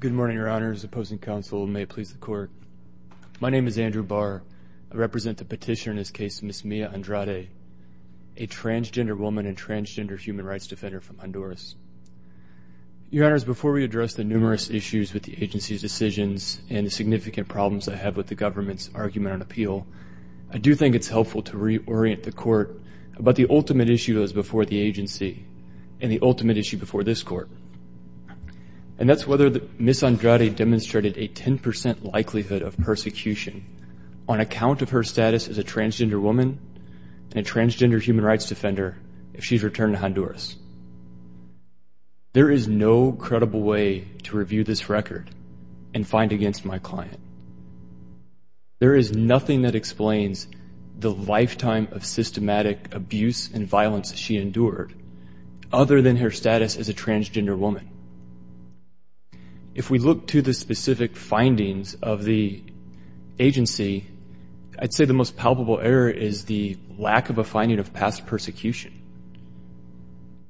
Good morning, Your Honors. Opposing counsel, may it please the Court. My name is Andrew Barr. I represent the petitioner in this case, Ms. Mia Andrade, a transgender woman and transgender human rights defender from Honduras. Your Honors, before we address the numerous issues with the agency's decisions and the significant problems I have with the government's argument on appeal, I do think it's helpful to reorient the Court about the ultimate issue that was before the agency and the ultimate issue before this Court. And that's whether Ms. Andrade demonstrated a 10% likelihood of persecution on account of her status as a transgender woman and a transgender human rights defender if she's returned to Honduras. There is no nothing that explains the lifetime of systematic abuse and violence she endured other than her status as a transgender woman. If we look to the specific findings of the agency, I'd say the most palpable error is the lack of a finding of past persecution.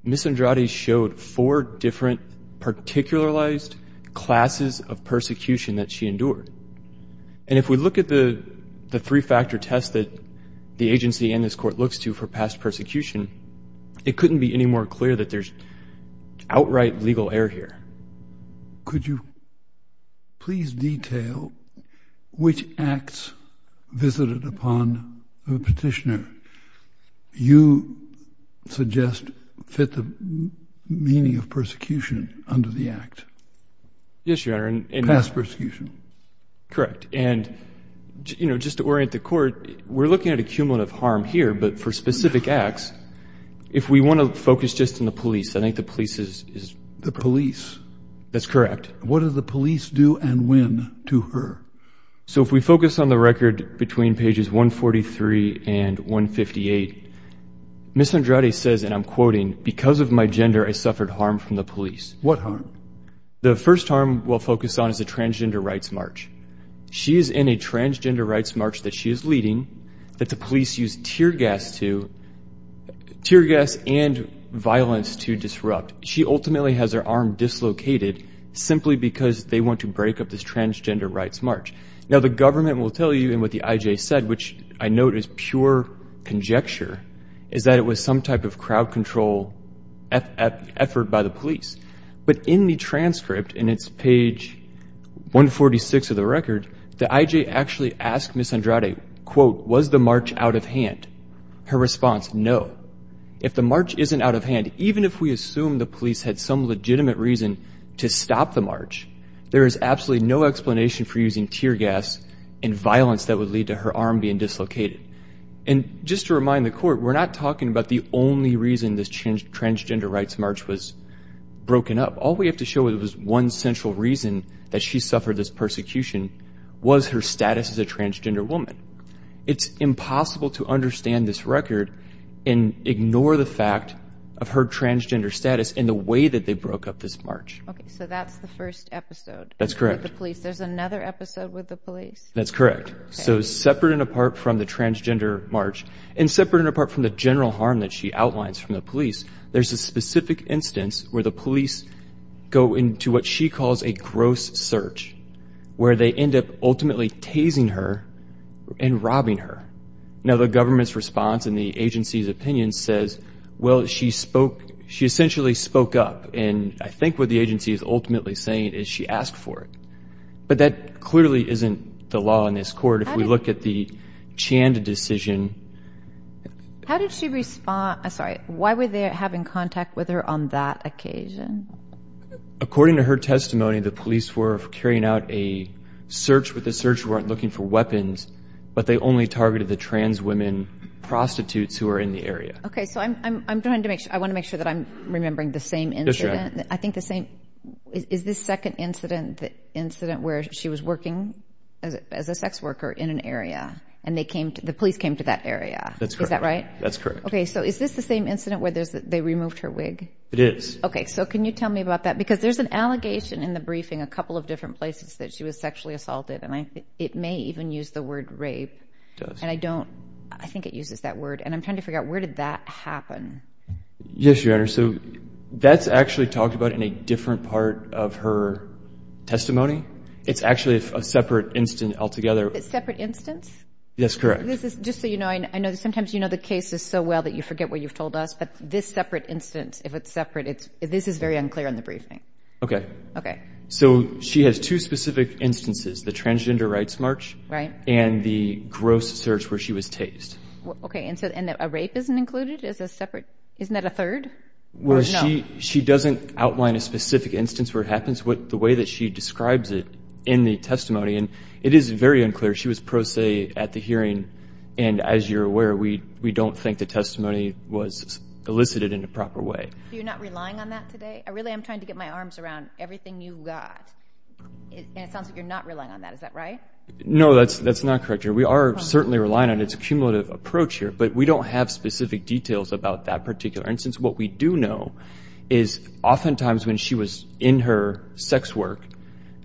Ms. Andrade showed four different particularized classes of persecution that she endured. And if we look at the three-factor test that the agency and this Court looks to for past persecution, it couldn't be any more clear that there's outright legal error here. Could you please detail which acts visited upon the petitioner you suggest fit the meaning of persecution under the act? Yes, Your Honor. Past persecution. Correct. And, you know, just to orient the Court, we're looking at accumulative harm here, but for specific acts, if we want to focus just on the police, I think the police is- The police. That's correct. What do the police do and when to her? So if we focus on the record between pages 143 and 158, Ms. Andrade says, and I'm quoting, because of my gender, I suffered harm from the police. What harm? The first harm we'll focus on is the transgender rights march. She is in a transgender rights march that she is leading that the police use tear gas to, tear gas and violence to disrupt. She ultimately has her arm dislocated simply because they want to break up this transgender rights march. Now, the government will tell you, and what the IJ said, which I note is pure conjecture, is that it was some type of crowd control effort by the police. But in the transcript, and it's page 146 of the record, the IJ actually asked Ms. Andrade, quote, was the march out of hand? Her response, no. If the march isn't out of hand, even if we assume the police had some legitimate reason to stop the march, there is absolutely no And just to remind the court, we're not talking about the only reason this transgender rights march was broken up. All we have to show is it was one central reason that she suffered this persecution was her status as a transgender woman. It's impossible to understand this record and ignore the fact of her transgender status and the way that they broke up this march. Okay, so that's the first episode. That's correct. With the police. There's another episode with the police? That's correct. So separate and apart from the transgender march, and separate and apart from the general harm that she outlines from the police, there's a specific instance where the police go into what she calls a gross search, where they end up ultimately tasing her and robbing her. Now, the government's response and the agency's opinion says, well, she spoke, she essentially spoke up. And I think what the agency is ultimately saying is she asked for it. But that clearly isn't the law in this court. If we look at the Chand decision. How did she respond? I'm sorry. Why were they having contact with her on that occasion? According to her testimony, the police were carrying out a search with a search warrant looking for weapons, but they only targeted the trans women prostitutes who are in the area. Okay, so I'm trying to make sure I want to make sure that I'm remembering the same incident. I think the same is this second incident, the incident where she was working as a sex worker in an area and they came to the police came to that area. Is that right? That's correct. Okay, so is this the same incident where they removed her wig? It is. Okay, so can you tell me about that? Because there's an allegation in the briefing a couple of different places that she was sexually assaulted. And it may even use the word rape. And I don't I think it uses that word. And I'm trying to figure out where did that happen? Yes, Your Honor. So that's actually talked about in a different part of her testimony. It's actually a separate incident altogether. A separate instance? That's correct. This is just so you know, I know sometimes, you know, the case is so well that you forget what you've told us. But this separate instance, if it's separate, it's this is very unclear in the briefing. Okay. Okay. So she has two specific instances, the transgender rights march. Right. And the gross search where she was tased. Okay. And so a rape isn't included as a separate? Isn't that a third? Well, she doesn't outline a specific instance where it happens. The way that she describes it in the testimony, and it is very unclear. She was pro se at the hearing. And as you're aware, we don't think the testimony was elicited in a proper way. So you're not relying on that today? I really am trying to get my arms around everything you got. And it sounds like you're not relying on that. Is that right? No, that's that's not correct. We are certainly relying on its cumulative approach here. But we don't have specific details about that particular instance. What we do know is oftentimes when she was in her sex work,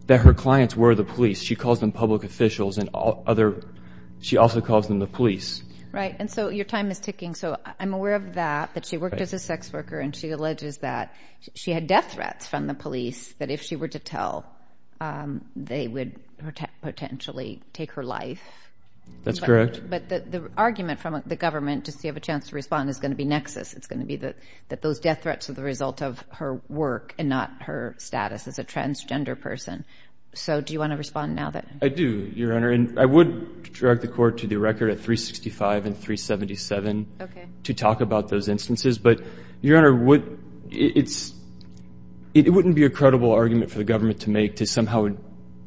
that her clients were the police. She calls them public officials and other. She also calls them the police. Right. And so your time is ticking. So I'm aware of that, that she worked as a sex worker and she alleges that she had death threats from the police that if she were to tell, they would potentially take her life. That's correct. But the argument from the government to see if a chance to respond is going to be nexus. It's going to be that that those death threats are the result of her work and not her status as a transgender person. So do you want to respond now that I do, Your Honor? And I would direct the court to the record at 365 and 377 to talk about those instances. But Your Honor, what it's it wouldn't be a credible argument for the government to make to somehow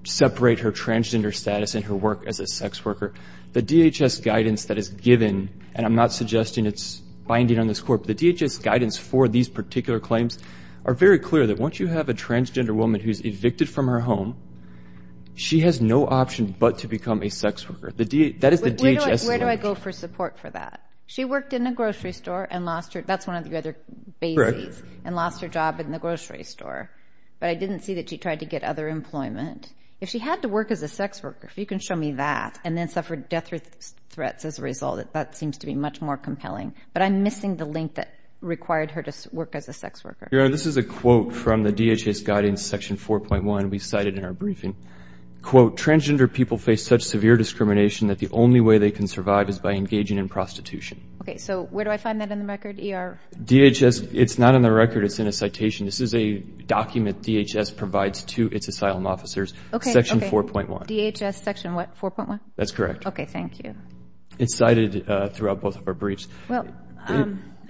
separate her transgender status and her work as a sex worker. The DHS guidance that is given, and I'm not suggesting it's binding on this court, but the DHS guidance for these particular claims are very clear that once you have a transgender woman who's evicted from her home, she has no option but to become a sex worker. That is the DHS. Where do I go for support for that? She worked in a grocery store and lost her, that's one of the other bases, and lost her job in the grocery store. But I didn't see that she tried to get other employment. If she had to work as a sex worker, if you can show me that, and then suffered death threats as a result, that seems to be much more compelling. But I'm missing the link that required her to work as a sex worker. Your Honor, this is a quote from the DHS guidance section 4.1 we cited in our briefing. Quote, transgender people face such severe discrimination that the only way they can survive is by engaging in prostitution. Okay, so where do I find that in the record, ER? DHS, it's not in the record, it's in a citation. This is a document DHS provides to its asylum officers. Okay. Section 4.1. DHS section what, 4.1? That's correct. Okay, thank you. It's cited throughout both of our briefs. Well, I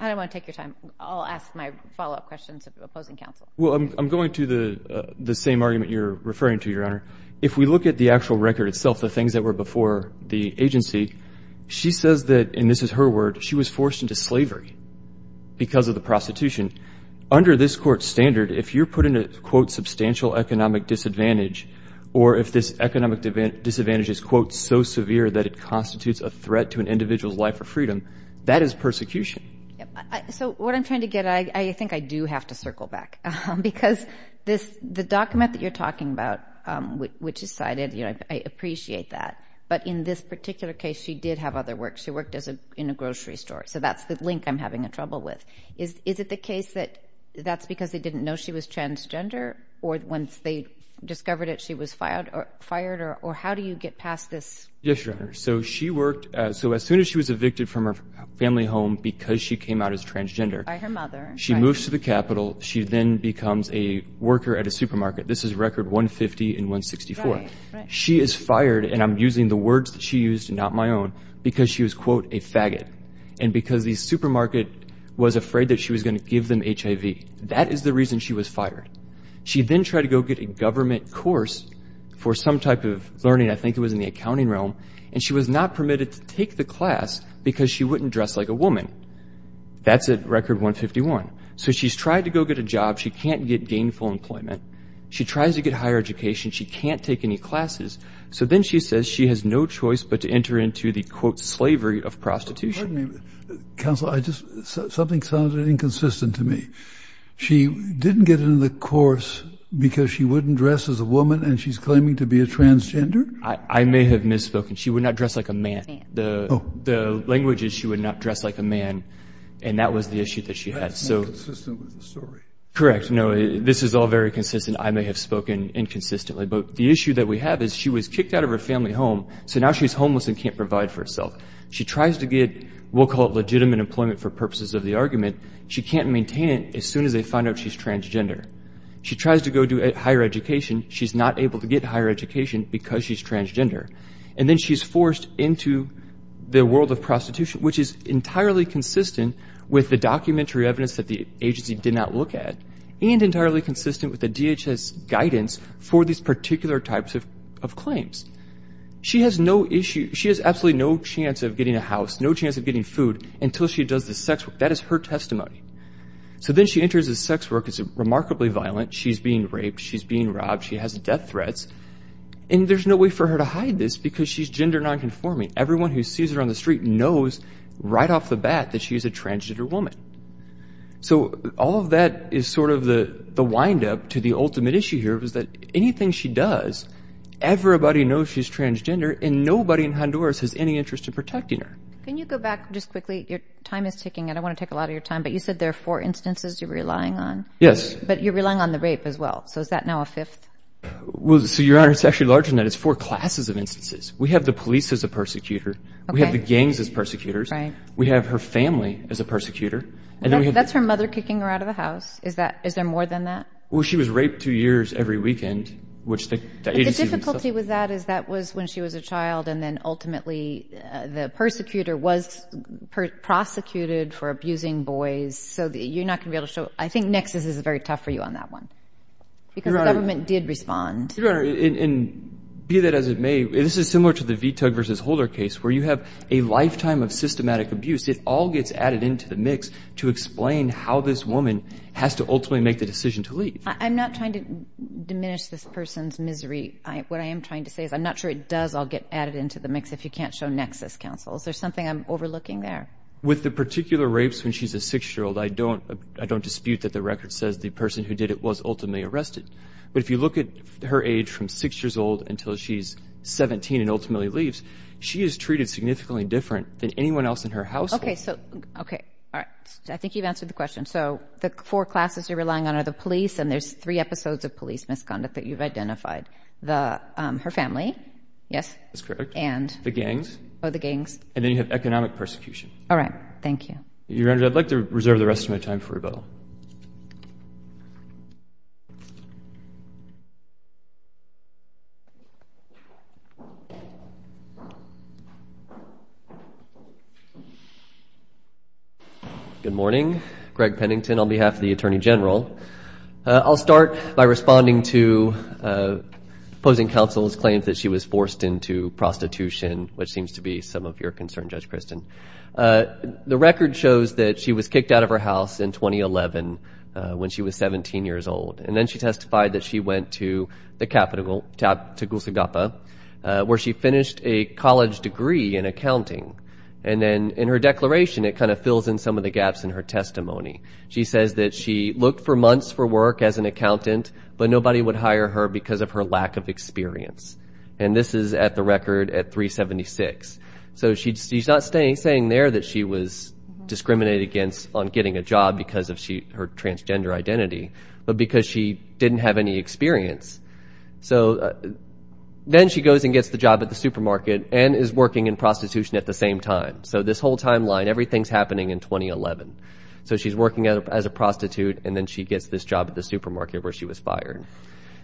don't want to take your time. I'll ask my follow-up questions of opposing counsel. Well, I'm going to the same argument you're referring to, Your Honor. If we look at the actual record itself, the things that were before the agency, she says that, and this is her word, she was forced into slavery because of the prostitution. Under this Court's standard, if you're put in a, quote, substantial economic disadvantage, or if this economic disadvantage is, quote, so severe that it constitutes a threat to an individual's life or freedom, that is persecution. So what I'm trying to get at, I think I do have to circle back, because this, the document that you're talking about, which is cited, you know, I appreciate that. But in this particular case, she did have other work. She worked in a grocery store. So that's the link I'm having trouble with. Is it the case that that's because they didn't know she was transgender? Or once they discovered it, she was fired? Or how do you get past this? Yes, Your Honor. So she worked, so as soon as she was evicted from her family home because she came out as transgender, she moves to the Capitol. She then becomes a worker at a supermarket. This is record 150 and 164. She is fired, and I'm using the words that I got my own, because she was, quote, a faggot, and because the supermarket was afraid that she was going to give them HIV. That is the reason she was fired. She then tried to go get a government course for some type of learning. I think it was in the accounting realm. And she was not permitted to take the class because she wouldn't dress like a woman. That's at record 151. So she's tried to go get a job. She can't get gainful employment. She tries to get higher education. She can't take any classes. So then she says she has no choice but to enter into the, quote, slavery of prostitution. Pardon me, counsel. Something sounded inconsistent to me. She didn't get into the course because she wouldn't dress as a woman, and she's claiming to be a transgender? I may have misspoken. She would not dress like a man. The language is she would not dress like a man, and that was the issue that she had. That's inconsistent with the story. Correct. No, this is all very consistent. I may have spoken inconsistently. But the herself. She tries to get, we'll call it legitimate employment for purposes of the argument. She can't maintain it as soon as they find out she's transgender. She tries to go do higher education. She's not able to get higher education because she's transgender. And then she's forced into the world of prostitution, which is entirely consistent with the documentary evidence that the agency did not look at, and entirely consistent with the DHS guidance for these particular types of claims. She has no issue. She has absolutely no chance of getting a house, no chance of getting food until she does the sex work. That is her testimony. So then she enters the sex work. It's remarkably violent. She's being raped. She's being robbed. She has death threats. And there's no way for her to hide this because she's gender nonconforming. Everyone who sees her on the street knows right off the bat that she's a transgender woman. So all of that is sort of the windup to the ultimate issue here was that anything she does, everybody knows she's transgender and nobody in Honduras has any interest in protecting her. Can you go back just quickly? Your time is ticking. I don't want to take a lot of your time, but you said there are four instances you're relying on. Yes. But you're relying on the rape as well. So is that now a fifth? Well, so Your Honor, it's actually larger than that. It's four classes of instances. We have the police as a persecutor. We have the gangs as persecutors. We have her family as a persecutor. That's her mother kicking her out of the house. Is there more than that? Well, she was raped two years every weekend, which the agency would say. But the difficulty with that is that was when she was a child and then ultimately the persecutor was prosecuted for abusing boys. So you're not going to be able to show. I think Nexus is very tough for you on that one because the government did respond. Your Honor, and be that as it may, this is similar to the VTUG versus Holder case where you have a lifetime of systematic abuse. It all gets added into the mix to explain how this woman has to ultimately make the decision to leave. I'm not trying to diminish this person's misery. What I am trying to say is I'm not sure it does all get added into the mix if you can't show Nexus counsels. There's something I'm overlooking there. With the particular rapes when she's a six-year-old, I don't dispute that the record says the person who did it was ultimately arrested. But if you look at her age from six years old until she's 17 and ultimately leaves, she is treated significantly different than anyone else in her household. Okay. All right. I think you've answered the question. So the four classes you're relying on are the police, and there's three episodes of police misconduct that you've identified. Her family. Yes. That's correct. And? The gangs. Oh, the gangs. And then you have economic persecution. All right. Thank you. Your Honor, I'd like to reserve the rest of my time for rebuttal. Good morning. Greg Pennington on behalf of the Attorney General. I'll start by responding to opposing counsel's claims that she was forced into prostitution, which seems to be some of your concern, Judge Kristen. The record shows that she was kicked out of her house in 2011 when she was 17 years old. And then she testified that she went to the capital to Gusagapa, where she finished a college degree in accounting. And then in her declaration, it kind of fills in some of the gaps in her testimony. She says that she looked for months for work as an accountant, but nobody would hire her because of her lack of experience. And this is at the record at 376. So she's not saying there that she was discriminated against on getting a job because of her transgender identity, but because she didn't have any experience. So then she goes and gets the job at the supermarket and is working in prostitution at the same time. So this whole timeline, everything's happening in 2011. So she's working as a prostitute, and then she gets this job at the supermarket where she was fired.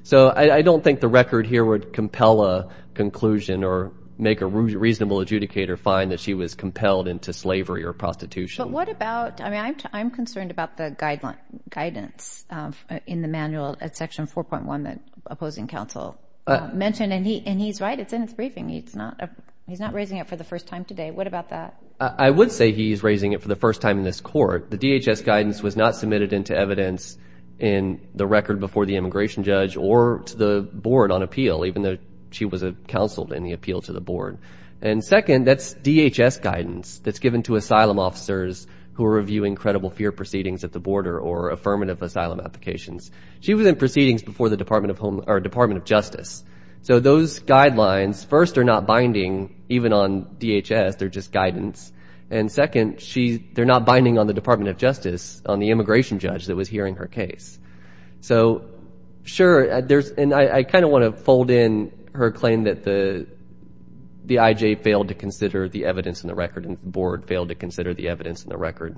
So I don't think the record here would compel a conclusion or make a reasonable adjudicator find that she was compelled into slavery or prostitution. But what about, I mean, I'm concerned about the guidance in the manual at Section 4.1 that opposing counsel mentioned. And he's right, it's in his briefing. He's not raising it for the first time today. What about that? I would say he's raising it for the first time in this court. The DHS guidance was not to the immigration judge or to the board on appeal, even though she was counseled in the appeal to the board. And second, that's DHS guidance that's given to asylum officers who are reviewing credible fear proceedings at the border or affirmative asylum applications. She was in proceedings before the Department of Justice. So those guidelines, first, are not binding even on DHS. They're just guidance. And second, they're not binding on the Department of Justice, on the immigration judge that was hearing her case. So sure, and I kind of want to fold in her claim that the IJ failed to consider the evidence in the record and the board failed to consider the evidence in the record.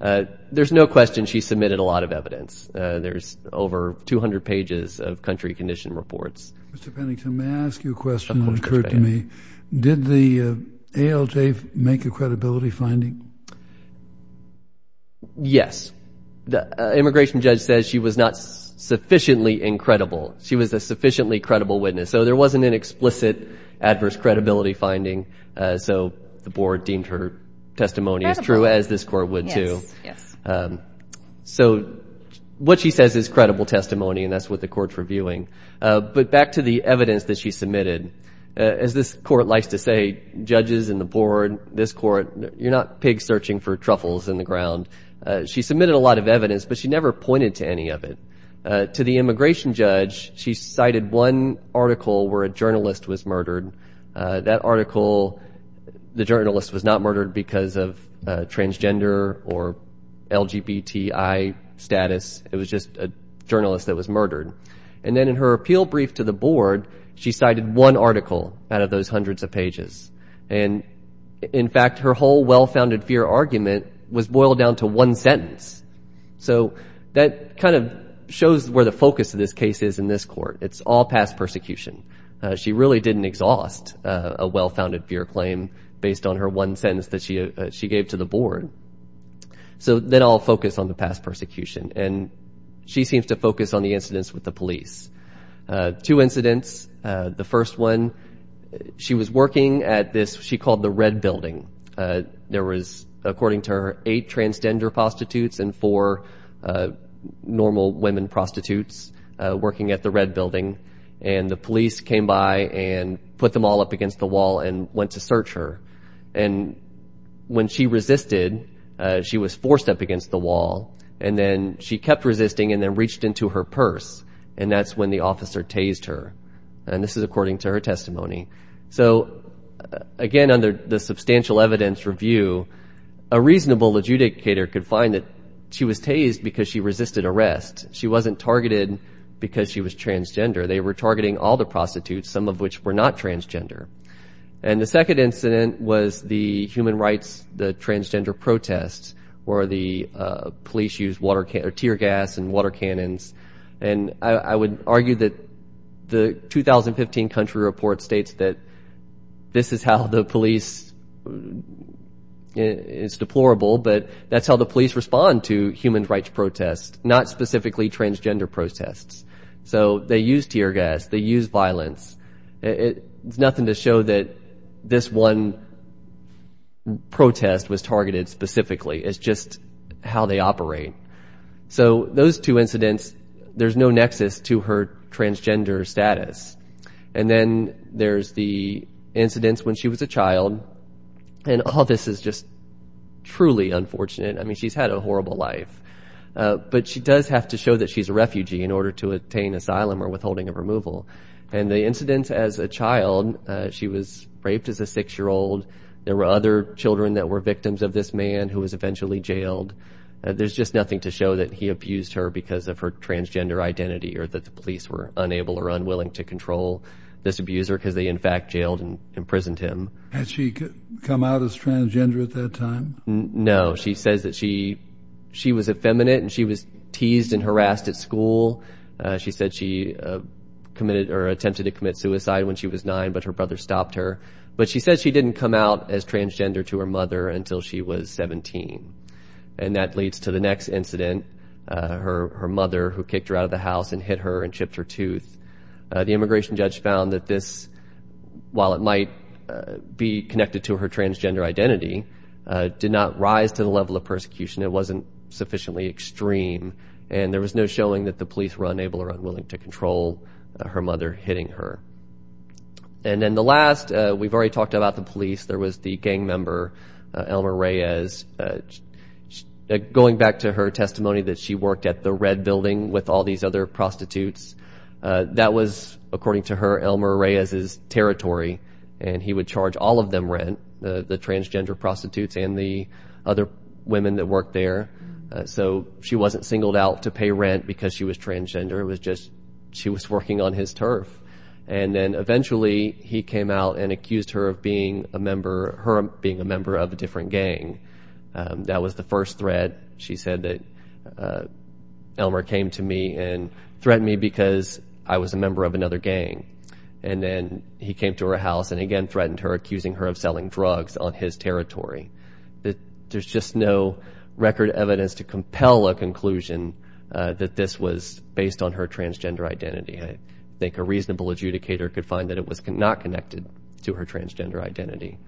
There's no question she submitted a lot of evidence. There's over 200 pages of country condition reports. Mr. Pennington, may I ask you a question that occurred to me? Did the ALJ make a credibility finding? Yes. The immigration judge says she was not sufficiently incredible. She was a sufficiently credible witness. So there wasn't an explicit adverse credibility finding. So the board deemed her testimony as true as this court would too. So what she says is credible testimony, and that's what the court's reviewing. But back to the evidence that she submitted. As this court likes to say, judges and the board, this court, you're not pigs searching for truffles in the ground. She submitted a lot of evidence, but she never pointed to any of it. To the immigration judge, she cited one article where a journalist was murdered. That article, the journalist was not murdered because of transgender or LGBTI status. It was just a journalist that was murdered. And then in her appeal brief to the board, she cited one article out of those hundreds of pages. And in fact, her whole well-founded fear argument was boiled down to one sentence. So that kind of shows where the focus of this case is in this court. It's all past persecution. She really didn't exhaust a well-founded fear claim based on her one sentence that she gave to the board. So then I'll focus on the past the first one. She was working at this, she called the red building. There was, according to her, eight transgender prostitutes and four normal women prostitutes working at the red building. And the police came by and put them all up against the wall and went to search her. And when she resisted, she was forced up against the wall. And then she kept resisting and then and that's when the officer tased her. And this is according to her testimony. So again, under the substantial evidence review, a reasonable adjudicator could find that she was tased because she resisted arrest. She wasn't targeted because she was transgender. They were targeting all the prostitutes, some of which were not transgender. And the second incident was the and I would argue that the 2015 country report states that this is how the police is deplorable, but that's how the police respond to human rights protests, not specifically transgender protests. So they use tear gas, they use violence. It's nothing to show that this one protest was targeted specifically. It's just how they operate. So those two incidents, there's no nexus to her transgender status. And then there's the incidents when she was a child. And all this is just truly unfortunate. I mean, she's had a horrible life, but she does have to show that she's a refugee in order to attain asylum or withholding of removal. And the incidents as a child, she was raped as a six-year-old. There were other children that were victims of this man who was eventually jailed. There's just nothing to show that he abused her because of her transgender identity or that the police were unable or unwilling to control this abuser because they in fact jailed and imprisoned him. Had she come out as transgender at that time? No. She says that she was effeminate and she was teased and harassed at school. She said she committed or attempted to commit suicide when she was nine, but her brother stopped her. But she says she didn't come out as transgender to her mother until she was 17. And that leads to the next incident, her mother who kicked her out of the house and hit her and chipped her tooth. The immigration judge found that this, while it might be connected to her transgender identity, did not rise to the level of persecution. It wasn't sufficiently extreme. And there was no showing that the police were unable or unwilling to control her mother hitting her. And then the last, we've already talked about the police. There was the gang member, Elmer Reyes. Going back to her testimony that she worked at the red building with all these other prostitutes, that was, according to her, Elmer Reyes's territory. And he would charge all of them rent, the transgender prostitutes and the other women that worked there. So she wasn't singled out to pay rent because she was transgender. It was just, she was working on his turf. And then eventually he came out and accused her of being a member, her being a member of a different gang. That was the first threat. She said that Elmer came to me and threatened me because I was a member of another gang. And then he came to her house and again threatened her, accusing her of selling drugs on his territory. There's just no record evidence to compel a conclusion that this was based on her transgender identity. I think a reasonable adjudicator could find that it was not connected to her transgender identity.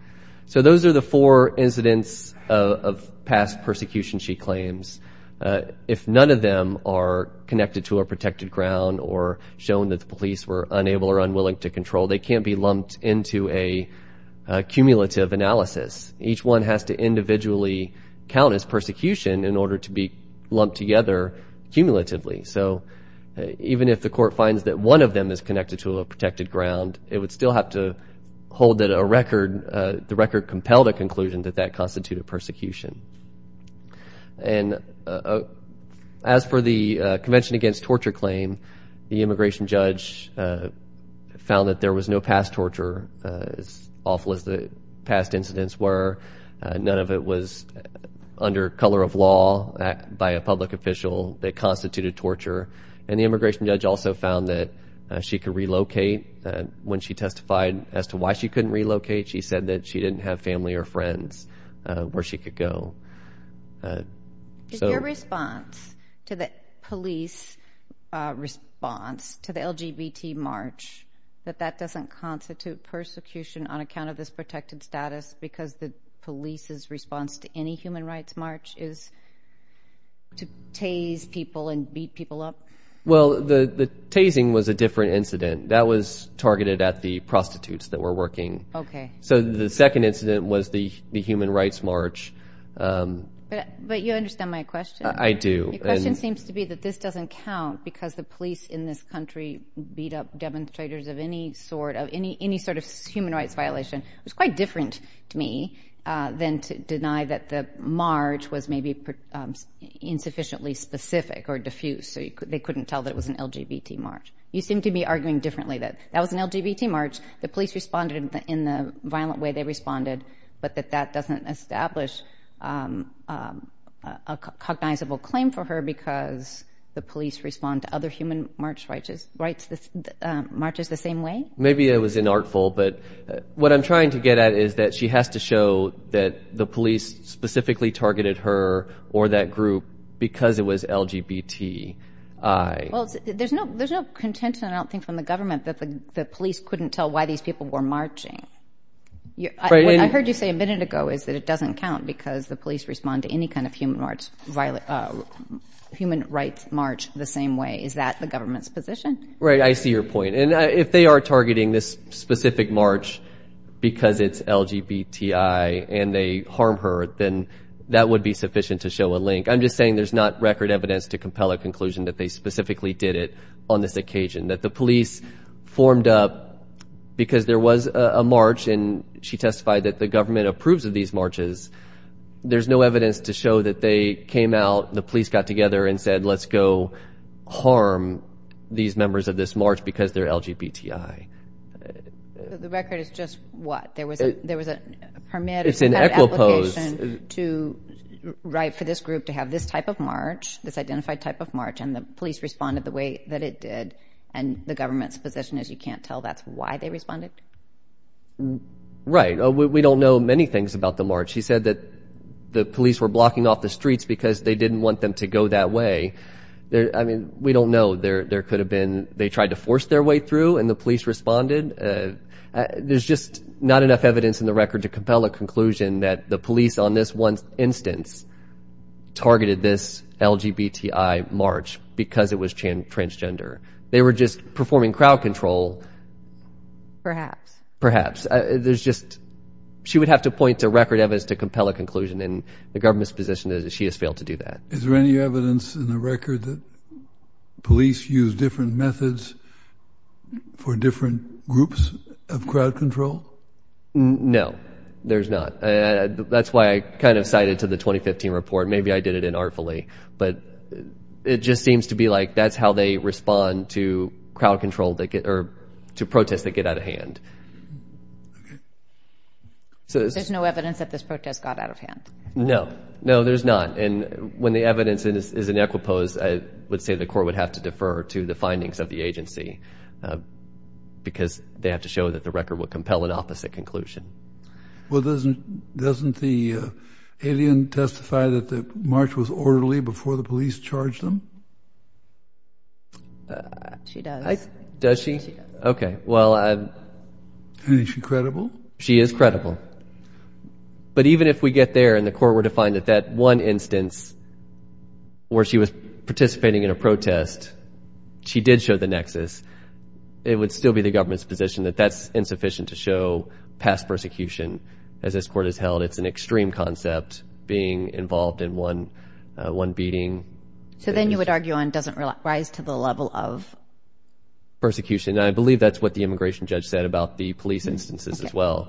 So those are the four incidents of past persecution she claims. If none of them are connected to a protected ground or shown that the police were unable or unwilling to control, they can't be lumped into a cumulative analysis. Each one has to individually count as persecution in order to be lumped together cumulatively. So even if the court finds that one of them is connected to a protected ground, it would still have to hold that a record, the record compelled a conclusion that that constituted persecution. And as for the Convention Against Torture claim, the immigration judge found that there was no past torture as awful as the past incidents were. None of it was under color of law by a public official that constituted torture. And the immigration judge also found that she could relocate. When she testified as to why she couldn't relocate, she said that she didn't have family or friends where she could go. Is your response to the police response to the LGBT march, that that doesn't constitute persecution on account of this protected status because the police's response to any human rights march is to tase people and beat people up? Well, the tasing was a different incident. That was targeted at the prostitutes that were working. Okay. So the second incident was the human rights march. But you understand my question? I do. Your question seems to be that this doesn't count because the police in this country beat up demonstrators of any sort of any sort of human rights violation. It was quite different to me than to deny that the march was maybe insufficiently specific or diffuse. So they couldn't tell that it was an LGBT march. You seem to be arguing differently that that was an LGBT march. The police responded in the violent way they responded, but that that doesn't establish a cognizable claim for her because the police respond to other human rights marches the same way? Maybe it was inartful, but what I'm trying to get at is that she has to show that the police specifically targeted her or that group because it was LGBT. Well, there's no contention, I don't think, from the government that the police couldn't tell why these people were marching. I heard you say a minute ago is that it doesn't count because the police respond to any kind of human rights march the same way. Is that the government's position? Right. I see your point. And if they are targeting this specific march because it's LGBTI and they harm her, then that would be sufficient to show a link. I'm just saying there's not record evidence to compel a conclusion that they specifically did it on this occasion, that the police formed up because there was a march and she testified that the government approves of these marches. There's no evidence to show that they came out, the police got together and said, let's go harm these members of this march because they're LGBTI. The record is just what? There was a permit or some kind of application to write for this group to have this type of march, this identified type of march, and the police responded the way that it did. And the government's position is you can't tell that's why they responded. Right. We don't know many things about the march. She said that the police were blocking off the streets because they didn't want them to go that way. I mean, we don't know. There could have been, they tried to force their way through and the police responded. There's just not enough evidence in the record to compel a conclusion that the police on this one instance targeted this LGBTI march because it was transgender. They were just performing crowd control. Perhaps. Perhaps. There's just, she would have to point to record evidence to compel a conclusion and the government's position is that she has failed to do that. Is there any evidence in the record that police use different methods for different groups of crowd control? No, there's not. That's why I kind of cited to the 2015 report. Maybe I did it inartfully, but it just seems to be like that's how they respond to crowd control or to protests that get out of hand. There's no evidence that this protest got out of hand? No. No, there's not. And when the evidence is in equipoise, I would say the court would have to defer to the findings of the agency because they have to show that the record will compel an opposite conclusion. Well, doesn't the alien testify that the march was orderly before the police charged them? She does. Does she? Okay, well. Is she credible? She is credible. But even if we get there and the court were to find that that one instance where she was participating in a protest, she did show the nexus, it would still be the government's position that that's insufficient to show past persecution. As this court has held, it's an extreme concept being involved in one beating. So then you would argue on doesn't rise to the level of? Persecution. I believe that's what the immigration judge said about the police instances as well.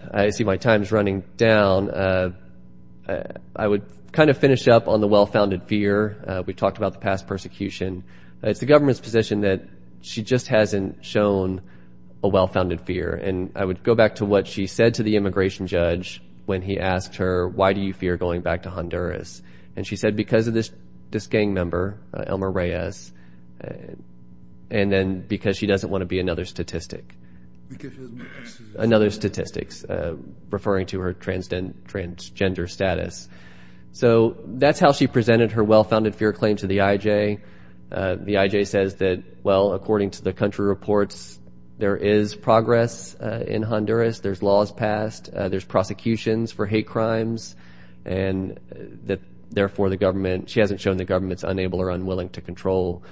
I see my time's running down. I would kind of finish up on the well-founded fear. We talked about the past persecution. It's the government's position that she just hasn't shown a well-founded fear. And I would go back to what she said to the immigration judge when he asked her, why do you fear going back to Honduras? And she said, because of this gang member, Elmer Reyes, and then because she doesn't want to be another statistic. Another statistics referring to her transgender status. So that's how she presented her well-founded fear claim to the IJ. The IJ says that, well, according to the country reports, there is progress in Honduras. There's laws passed. There's prosecutions for hate crimes. And that, therefore, the government, she hasn't shown the government's unable or unwilling to control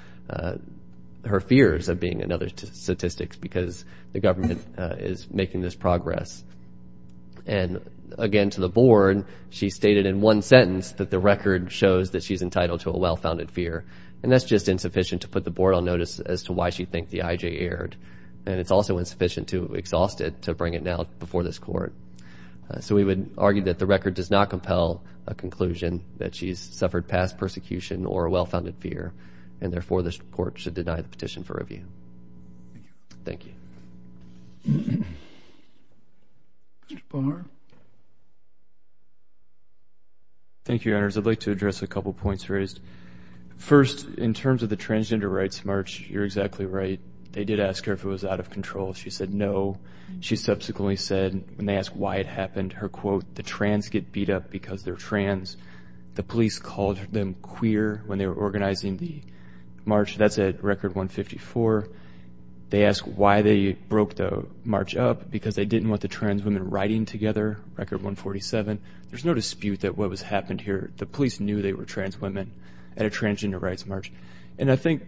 her fears of being another statistics because the government is making this progress. And again, to the board, she stated in one sentence that the record shows that she's entitled to a well-founded fear. And that's just insufficient to put the board on notice as to why she think the IJ erred. And it's also insufficient to exhaust it to bring it out before this court. So we would argue that the record does not compel a conclusion that she's suffered past persecution or a well-founded fear. And therefore, this court should deny the petition for review. Thank you. Mr. Palmer. Thank you, Your Honors. I'd like to address a couple of points raised. First, in terms of the transgender rights march, you're exactly right. They did ask her if it was out of control. She said no. She subsequently said, when they asked why it happened, her quote, the trans get beat up because they're trans. The police called them queer when they were organizing the march. That's at record 154. They asked why they broke the march up, because they didn't want the trans women riding together, record 147. There's no dispute that what was happened here, the police knew they were trans women at a transgender rights march. And I think,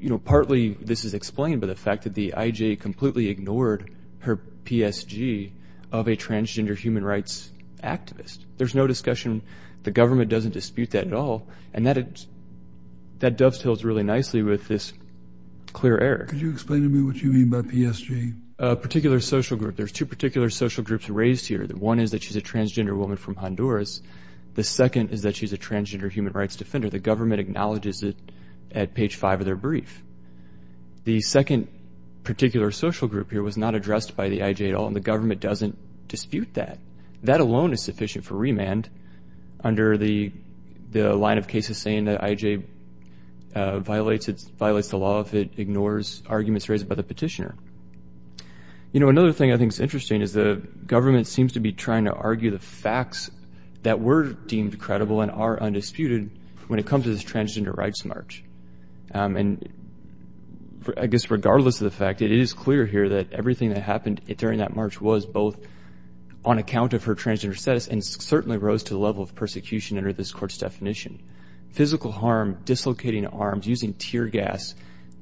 you know, partly this is explained by the fact that the IJ completely ignored her PSG of a transgender human rights activist. There's no discussion. The government doesn't dispute that at all. And that dovetails really nicely with this clear error. Could you explain to me what you mean by PSG? A particular social group. There's two particular social groups raised here. One is that she's a transgender woman from Honduras. The second is that she's a transgender human rights defender. The government acknowledges it at page five of their brief. The second particular social group here was not addressed by the IJ at all, and the government doesn't dispute that. That alone is sufficient for remand under the line of cases saying that IJ violates the law if it ignores You know, another thing I think is interesting is the government seems to be trying to argue the facts that were deemed credible and are undisputed when it comes to this transgender rights march. And I guess regardless of the fact, it is clear here that everything that happened during that march was both on account of her transgender status and certainly rose to the level of persecution under this court's definition. Physical harm, dislocating arms, using tear gas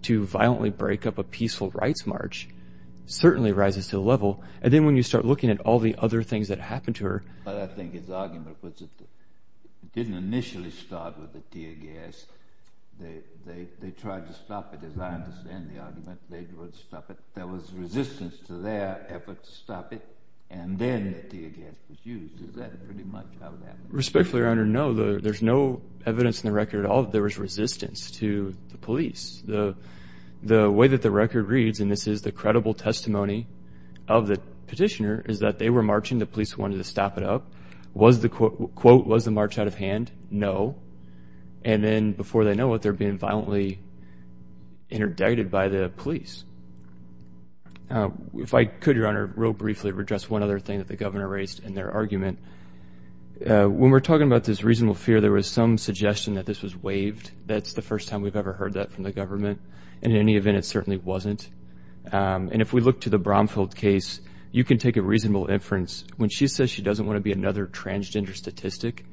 to violently break up a peaceful rights march certainly rises to the level. And then when you start looking at all the other things that happened to her. But I think his argument was it didn't initially start with the tear gas. They tried to stop it. As I understand the argument, they would stop it. There was resistance to their effort to stop it, and then the tear gas was used. Is that pretty much how it happened? Respectfully, Your Honor, no. There's no evidence in the record at all that there was resistance to the police. The way that the record reads, and this is the credible testimony of the petitioner, is that they were marching. The police wanted to stop it up. Quote, was the march out of hand? No. And then before they know it, they're being violently interdicted by the police. If I could, Your Honor, real briefly address one other thing that the governor raised in their argument. When we're talking about this reasonable fear, there was some suggestion that this was waived. That's the first time we've ever heard that from the government. And in any event, it certainly wasn't. And if we look to the Bromfield case, you can take a reasonable inference. When she says she doesn't want to be another transgender statistic,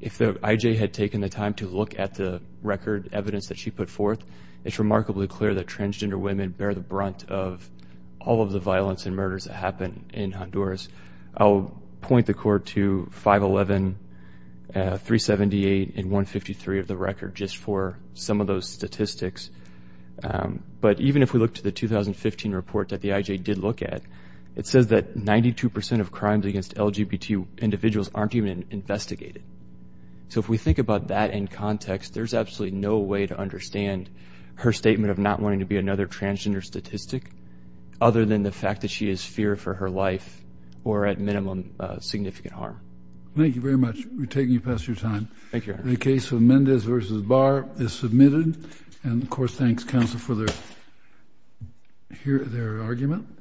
if the IJ had taken the time to look at the record evidence that she put forth, it's remarkably clear that transgender women bear the brunt of all of the violence and murders that in Honduras. I'll point the court to 511, 378, and 153 of the record just for some of those statistics. But even if we look to the 2015 report that the IJ did look at, it says that 92% of crimes against LGBT individuals aren't even investigated. So if we think about that in context, there's absolutely no way to understand her statement of not wanting to be another transgender statistic other than the fact that she has fear for her life or, at minimum, significant harm. Thank you very much. We're taking you past your time. The case of Mendez versus Barr is submitted. And of course, thanks, counsel, for their argument.